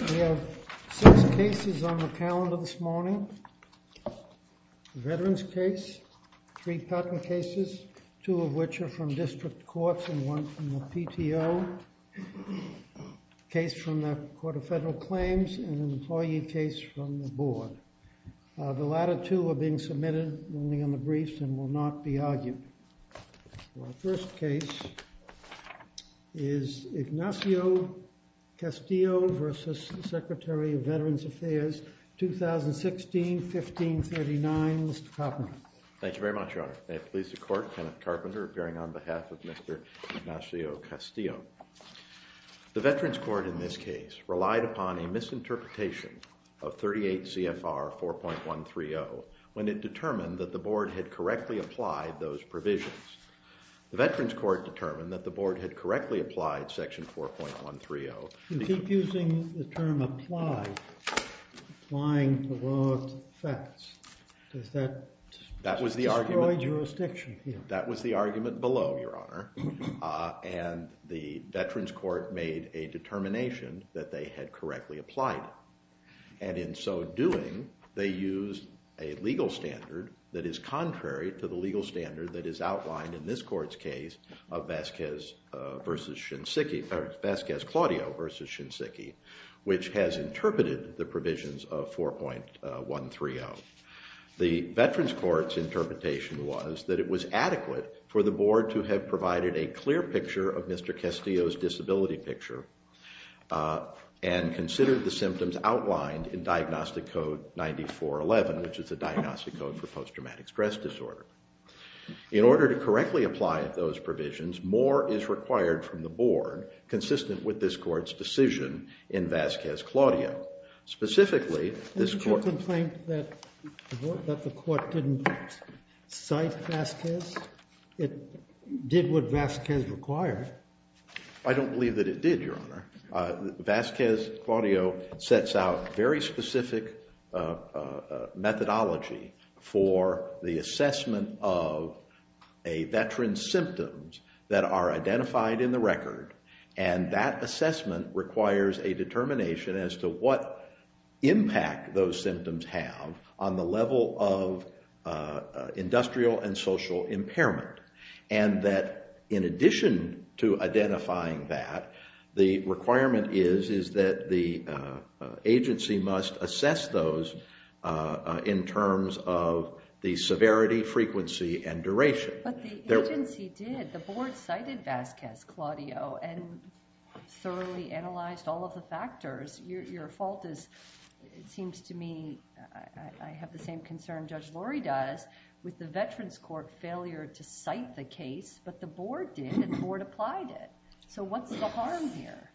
We have six cases on the calendar this morning, a veterans case, three patent cases, two of which are from district courts and one from the PTO, a case from the Court of Federal Claims and an employee case from the board. The latter two are being submitted only on Our first case is Ignacio Castillo v. Secretary of Veterans Affairs, 2016-1539, Mr. Carpenter. Thank you very much, Your Honor. May it please the court, Kenneth Carpenter appearing on behalf of Mr. Ignacio Castillo. The veterans court in this case relied upon a misinterpretation of 38 CFR 4.130 when it determined that the board had The veterans court determined that the board had correctly applied section 4.130. You keep using the term applied, applying to law of facts. Does that destroy jurisdiction here? That was the argument below, Your Honor, and the veterans court made a determination that they had correctly applied it. And in so doing, they used a legal standard that is contrary to the legal standard that is outlined in this court's case of Vasquez Claudio v. Shinseki, which has interpreted the provisions of 4.130. The veterans court's interpretation was that it was adequate for the board to have provided a clear picture of Mr. Castillo's disability picture and considered the symptoms outlined in Diagnostic Code 9411, which is the diagnostic code for post-traumatic stress disorder. In order to correctly apply those provisions, more is required from the board consistent with this court's decision in Vasquez Claudio. Specifically, this court- Did you complain that the court didn't cite Vasquez? It did what Vasquez required. I don't believe that it did, Your Honor. Vasquez Claudio sets out very specific methodology for the assessment of a veteran's symptoms that are identified in the record, and that assessment requires a determination as to what impact those symptoms have on the level of industrial and social impairment, and that in addition to identifying that, the requirement is that the agency must assess those in terms of the severity, frequency, and duration. But the agency did. The board cited Vasquez Claudio and thoroughly analyzed all of the factors. Your fault is, it seems to me, I have the same concern Judge Lurie does with the veterans court failure to cite the case, but the board did, and the board applied it. So what's the harm here?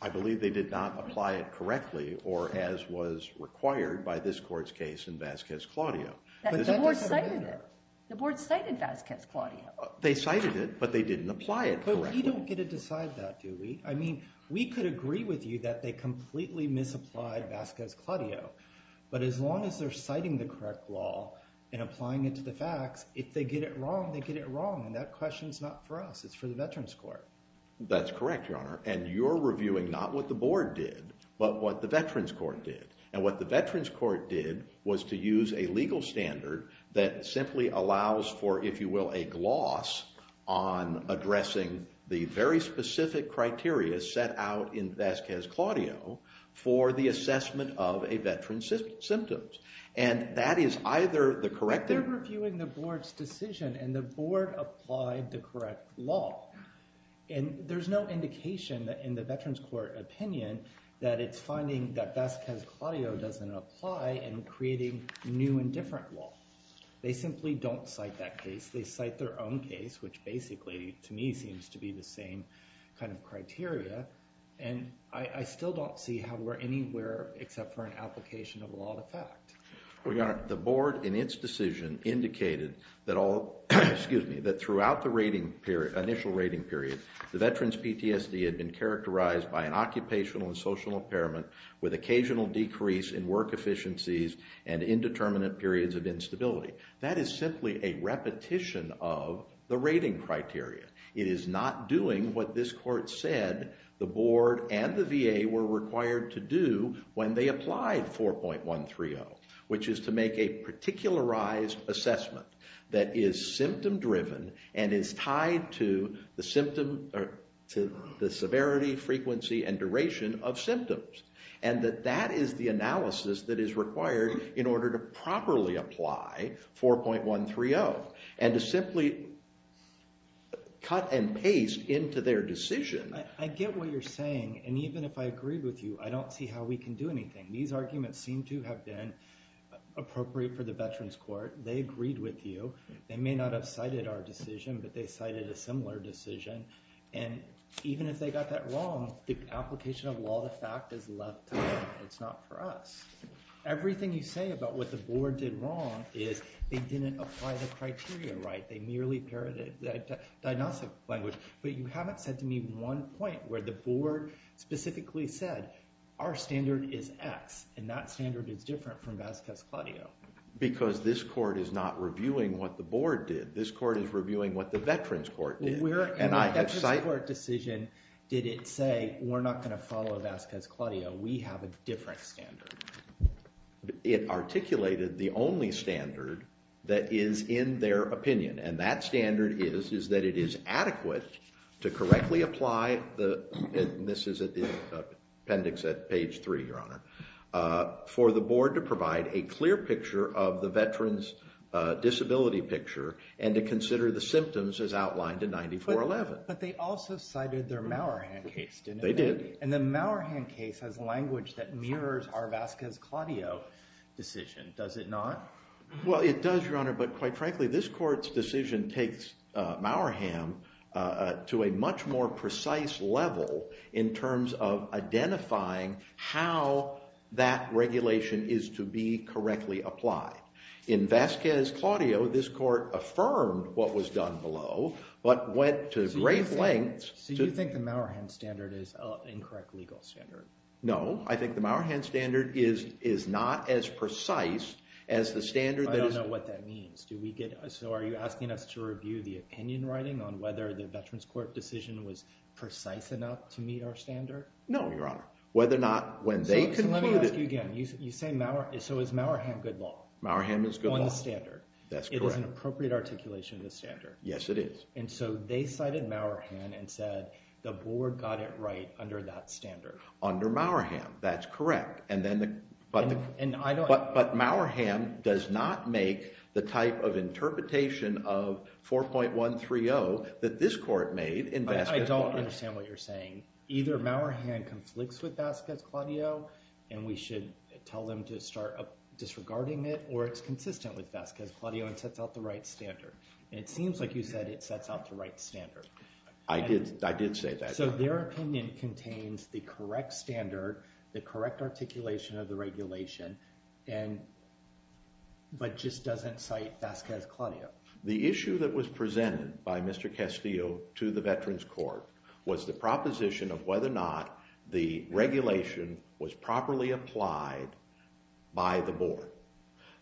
I believe they did not apply it correctly or as was required by this court's case in Vasquez Claudio. The board cited it. The board cited Vasquez Claudio. They cited it, but they didn't apply it correctly. We don't get to decide that, do we? I mean, we could agree with you that they completely misapplied Vasquez Claudio, but as long as they're citing the correct law and applying it to the facts, if they get it wrong, they get it wrong, and that question's not for us. It's for the veterans court. That's correct, Your Honor, and you're reviewing not what the board did, but what the veterans court did, and what the veterans court did was to use a legal standard that simply allows for, if you will, a gloss on addressing the very specific criteria set out in Vasquez Claudio for the assessment of a veteran's symptoms, and that is either the corrective- But you're reviewing the board's decision, and the board applied the correct law, and there's no indication in the veterans court opinion that it's finding that Vasquez Claudio doesn't apply and creating new and different law. They simply don't cite that case. They cite their own case, which basically, to me, seems to be the same kind of criteria, and I still don't see how we're anywhere except for an application of law to fact. Well, Your Honor, the board, in its decision, indicated that throughout the initial rating period, the veterans PTSD had been characterized by an occupational and social impairment with occasional decrease in work efficiencies and indeterminate periods of instability. That is simply a repetition of the rating criteria. It is not doing what this court said the board and the VA were required to do when they applied 4.130, which is to make a particularized assessment that is symptom-driven and is tied to the severity, frequency, and duration of symptoms, and that that is the analysis that is required in order to properly apply 4.130 and to simply cut and paste into their decision. I get what you're saying, and even if I agree with you, I don't see how we can do anything. These arguments seem to have been appropriate for the veterans court. They agreed with you. They may not have cited our decision, but they cited a similar decision, and even if they got that wrong, the application of law to fact is left to them. It's not for us. Everything you say about what the board did wrong is they didn't apply the criteria right. They merely parodied the diagnostic language, but you haven't said to me one point where the board specifically said our standard is X, and that standard is different from Vasquez-Cladillo. Because this court is not reviewing what the board did. This court is reviewing what the veterans court did. In the veterans court decision, did it say we're not going to follow Vasquez-Cladillo? We have a different standard. It articulated the only standard that is in their opinion, and that standard is that it is adequate to correctly apply the and this is at the appendix at page three, Your Honor, for the board to provide a clear picture of the veterans disability picture and to consider the symptoms as outlined in 9411. But they also cited their Mauerham case, didn't they? They did. And the Mauerham case has language that mirrors our Vasquez-Cladillo decision, does it not? Well, it does, Your Honor, but quite frankly, this court's decision takes Mauerham to a much more precise level in terms of identifying how that regulation is to be correctly applied. In Vasquez-Cladillo, this court affirmed what was done below, but went to great lengths. So you think the Mauerham standard is an incorrect legal standard? No, I think the Mauerham standard is not as precise as the standard that is I don't know what that means. So are you asking us to review the opinion writing on whether the veterans court decision was precise enough to meet our standard? No, Your Honor. Whether or not when they concluded Let me ask you again. So is Mauerham good law? Mauerham is good law. On the standard. That's correct. It is an appropriate articulation of the standard. Yes, it is. And so they cited Mauerham and said the board got it right under that standard. Under Mauerham, that's correct. But Mauerham does not make the type of interpretation of 4.130 that this court made in Vasquez-Cladillo. I don't understand what you're saying. Either Mauerham conflicts with Vasquez-Cladillo and we should tell them to start disregarding it or it's consistent with Vasquez-Cladillo and sets out the right standard. And it seems like you said it sets out the right standard. I did say that. So their opinion contains the correct standard, the correct articulation of the regulation, but just doesn't cite Vasquez-Cladillo. The issue that was presented by Mr. Castillo to the Veterans Court was the proposition of whether or not the regulation was properly applied by the board.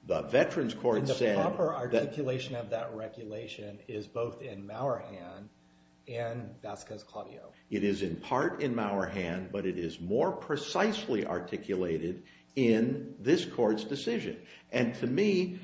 The Veterans Court said And the proper articulation of that regulation is both in Mauerham and Vasquez-Cladillo. It is in part in Mauerham, but it is more precisely articulated in this court's decision. And to me,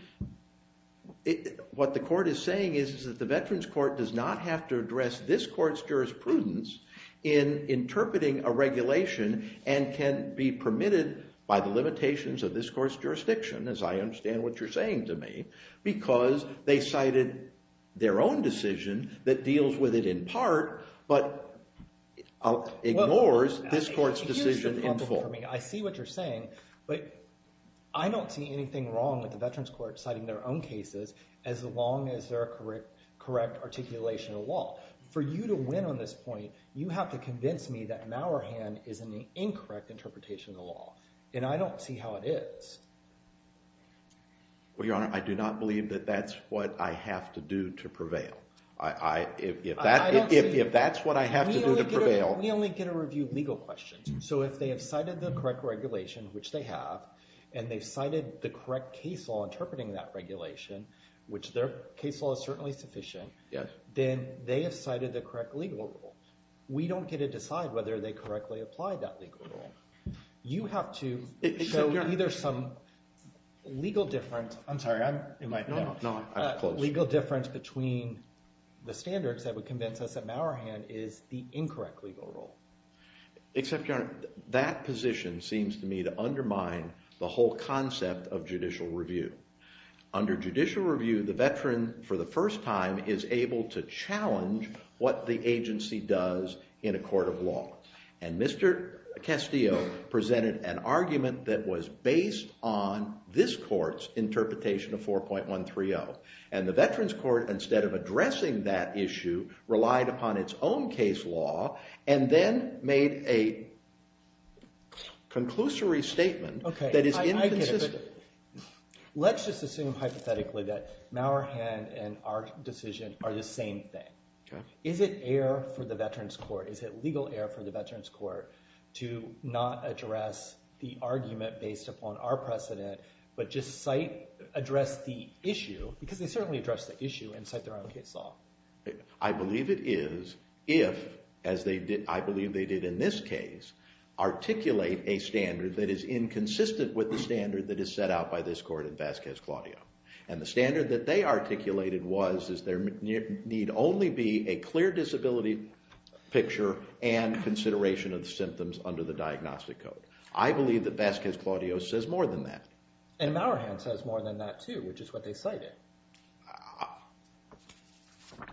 what the court is saying is that the Veterans Court does not have to address this court's jurisprudence in interpreting a regulation and can be permitted by the limitations of this court's jurisdiction, as I understand what you're saying to me, because they cited their own decision that deals with it in part but ignores this court's decision in full. I see what you're saying, but I don't see anything wrong with the Veterans Court citing their own cases as long as they're a correct articulation of law. For you to win on this point, you have to convince me that Mauerham is an incorrect interpretation of the law, and I don't see how it is. Well, Your Honor, I do not believe that that's what I have to do to prevail. If that's what I have to do to prevail... We only get a review of legal questions. So if they have cited the correct regulation, which they have, and they've cited the correct case law interpreting that regulation, which their case law is certainly sufficient, then they have cited the correct legal rule. We don't get to decide whether they correctly applied that legal rule. You have to show either some legal difference between the standards that would convince us that Mauerham is the incorrect legal rule. Except, Your Honor, that position seems to me to undermine the whole concept of judicial review. Under judicial review, the veteran, for the first time, is able to challenge what the agency does in a court of law. And Mr. Castillo presented an argument that was based on this court's interpretation of 4.130. And the Veterans Court, instead of addressing that issue, relied upon its own case law and then made a conclusory statement that is inconsistent. Let's just assume hypothetically that Mauerham and our decision are the same thing. Is it air for the Veterans Court, is it legal air for the Veterans Court, to not address the argument based upon our precedent, but just address the issue, because they certainly addressed the issue, and cite their own case law? I believe it is if, as I believe they did in this case, articulate a standard that is inconsistent with the standard that is set out by this court in Vasquez-Claudio. And the standard that they articulated was there need only be a clear disability picture and consideration of the symptoms under the diagnostic code. I believe that Vasquez-Claudio says more than that. And Mauerham says more than that, too, which is what they cited.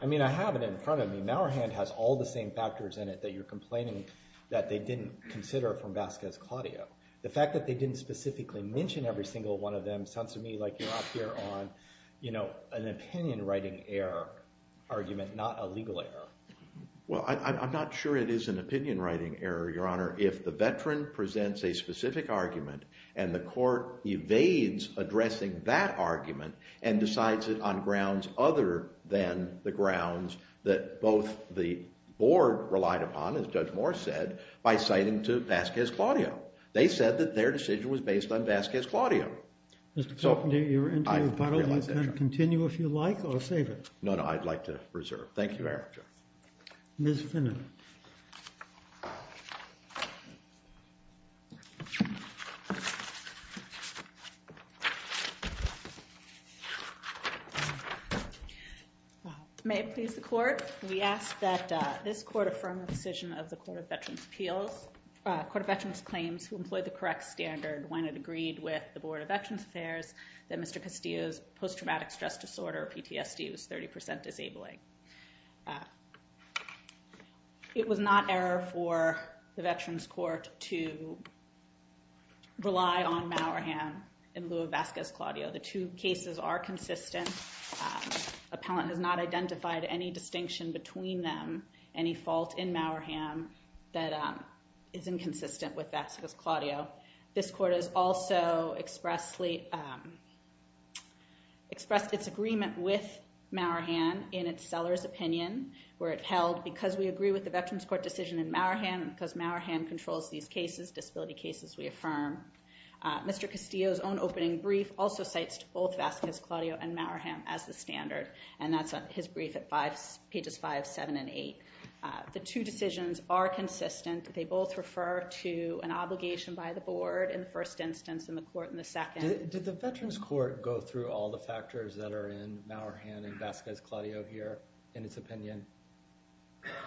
I mean, I have it in front of me. Mauerham has all the same factors in it that you're complaining that they didn't consider from Vasquez-Claudio. The fact that they didn't specifically mention every single one of them sounds to me like you're up here on an opinion-writing error argument, not a legal error. Well, I'm not sure it is an opinion-writing error, Your Honor, if the veteran presents a specific argument and the court evades addressing that argument and decides it on grounds other than the grounds that both the board relied upon, as Judge Moore said, by citing to Vasquez-Claudio. They said that their decision was based on Vasquez-Claudio. Mr. Fenton, you're into a puddle. You can continue if you like, or save it. No, no, I'd like to reserve. Thank you, Your Honor. Ms. Finner. May it please the Court. We ask that this Court affirm the decision of the Court of Veterans Appeals Court of Veterans Claims, who employed the correct standard when it agreed with the Board of Veterans Affairs that Mr. Castillo's post-traumatic stress disorder, PTSD, was 30% disabling. It was not error for the Veterans Court to rely on Mauerham in lieu of Vasquez-Claudio. The two cases are consistent. Appellant has not identified any distinction between them, any fault in Mauerham that is inconsistent with Vasquez-Claudio. This Court has also expressed its agreement with Mauerham in its seller's opinion, where it held, because we agree with the Veterans Court decision in Mauerham and because Mauerham controls these cases, disability cases, we affirm. Mr. Castillo's own opening brief also cites both Vasquez-Claudio and Mauerham as the standard, and that's his brief at pages 5, 7, and 8. The two decisions are consistent. They both refer to an obligation by the Board in the first instance and the Court in the second. Did the Veterans Court go through all the factors that are in Mauerham and Vasquez-Claudio here in its opinion?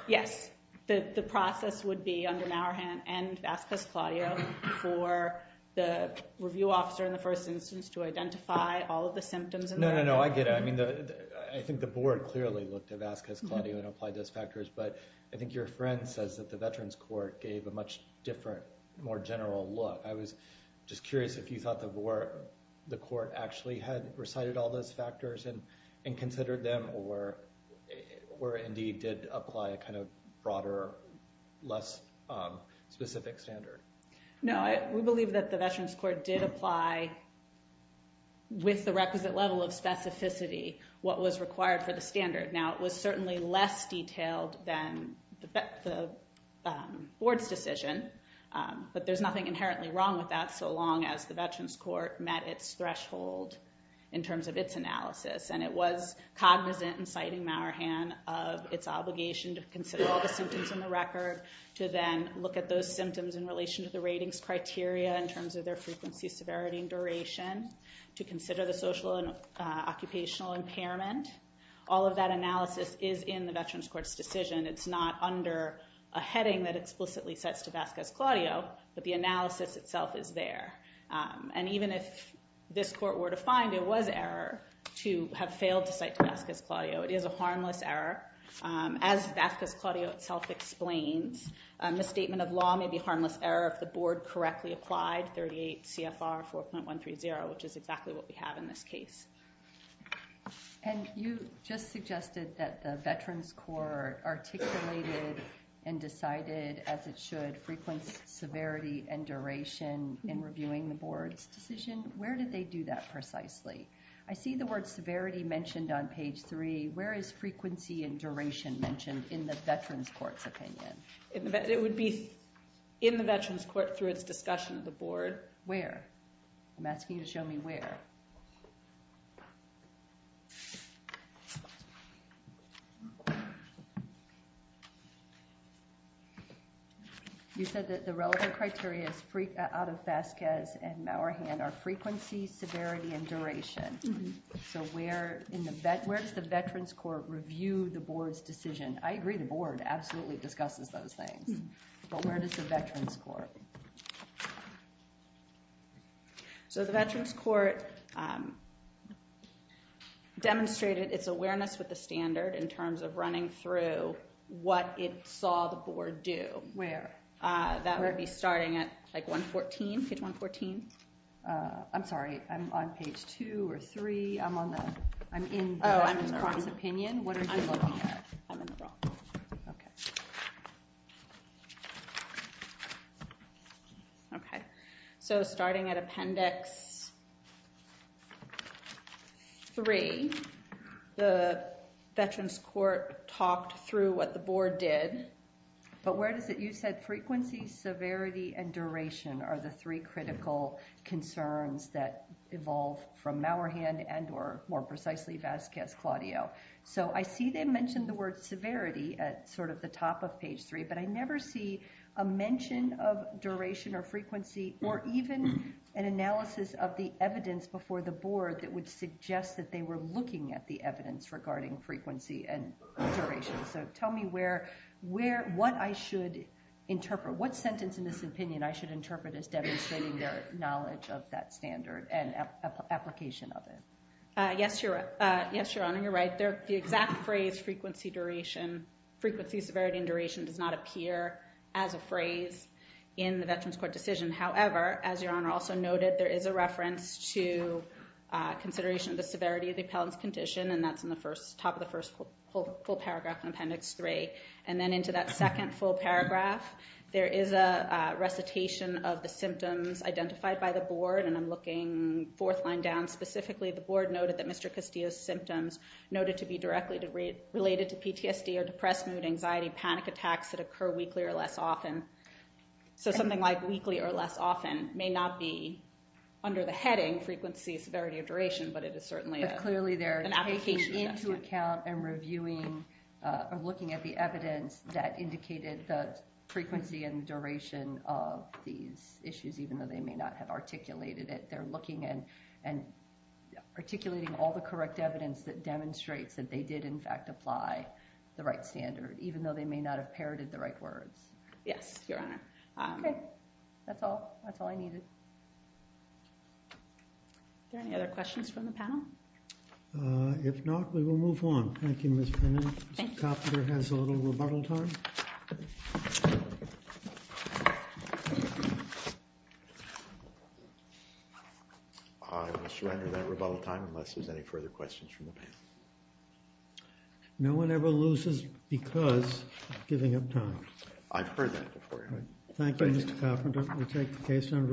Yes. The process would be under Mauerham and Vasquez-Claudio for the review officer in the first instance to identify all of the symptoms. No, no, no. I get it. I think the Board clearly looked at Vasquez-Claudio and applied those factors, but I think your friend says that the Veterans Court gave a much different, more general look. I was just curious if you thought the Court actually had recited all those factors and considered them or indeed did apply a kind of broader, less specific standard. No, we believe that the Veterans Court did apply with the requisite level of specificity what was required for the standard. Now, it was certainly less detailed than the Board's decision, but there's nothing inherently wrong with that so long as the Veterans Court met its threshold in terms of its analysis, and it was cognizant in citing Mauerham of its obligation to consider all the symptoms in the record, to then look at those symptoms in relation to the ratings criteria in terms of their frequency, severity, and duration, to consider the social and occupational impairment. All of that analysis is in the Veterans Court's decision. It's not under a heading that explicitly sets to Vasquez-Claudio, but the analysis itself is there. And even if this Court were to find it was error to have failed to cite Vasquez-Claudio, it is a harmless error. As Vasquez-Claudio itself explains, a misstatement of law may be a harmless error if the Board correctly applied 38 CFR 4.130, which is exactly what we have in this case. And you just suggested that the Veterans Court articulated and decided, as it should, frequency, severity, and duration in reviewing the Board's decision. Where did they do that precisely? I see the word severity mentioned on page 3. Where is frequency and duration mentioned in the Veterans Court's opinion? It would be in the Veterans Court through its discussion of the Board. Where? I'm asking you to show me where. You said that the relevant criteria out of Vasquez and Mauerhand are frequency, severity, and duration. So where does the Veterans Court review the Board's decision? I agree the Board absolutely discusses those things. But where does the Veterans Court? So the Veterans Court demonstrated its awareness with the standard in terms of running through what it saw the Board do. Where? That would be starting at page 114. I'm sorry, I'm on page 2 or 3. I'm in the Croft's opinion. What are you looking at? So starting at appendix 3, the Veterans Court talked through what the Board did. But where is it you said frequency, severity, and duration are the three critical concerns that evolve from Mauerhand and or more precisely Vasquez-Claudio. So I see they mentioned the word severity at sort of the top of page 3, but I never see a mention of duration or frequency or even an analysis of the evidence before the Board that would suggest that they were looking at the evidence regarding frequency and duration. So tell me what I should interpret. What sentence in this opinion I should interpret as demonstrating their knowledge of that standard and application of it? Yes, Your Honor, you're right. The exact phrase frequency, severity, and duration does not appear as a phrase in the Veterans Court decision. However, as Your Honor also noted, there is a reference to consideration of the severity of the appellant's condition, and that's in the top of the first full paragraph in appendix 3. And then into that second full paragraph, there is a recitation of the symptoms identified by the Board, and I'm looking fourth line down. Specifically the Board noted that Mr. Castillo's symptoms noted to be directly related to PTSD or depressed mood, anxiety, panic attacks that occur weekly or less often. So something like weekly or less often may not be under the heading frequency, severity, or duration, but it is certainly an application. Taking into account and reviewing or looking at the evidence that indicated the frequency and duration of these issues, even though they may not have articulated it, they're looking and articulating all the correct evidence that demonstrates that they did in fact apply the right standard, even though they may not have parroted the right words. Yes, Your Honor. Okay, that's all I needed. Are there any other questions from the panel? If not, we will move on. Thank you, Ms. Penning. Mr. Coffender has a little rebuttal time. I will surrender that rebuttal time unless there's any further questions from the panel. No one ever loses because of giving up time. I've heard that before, Your Honor. Thank you, Mr. Coffender. We take the case under revisal.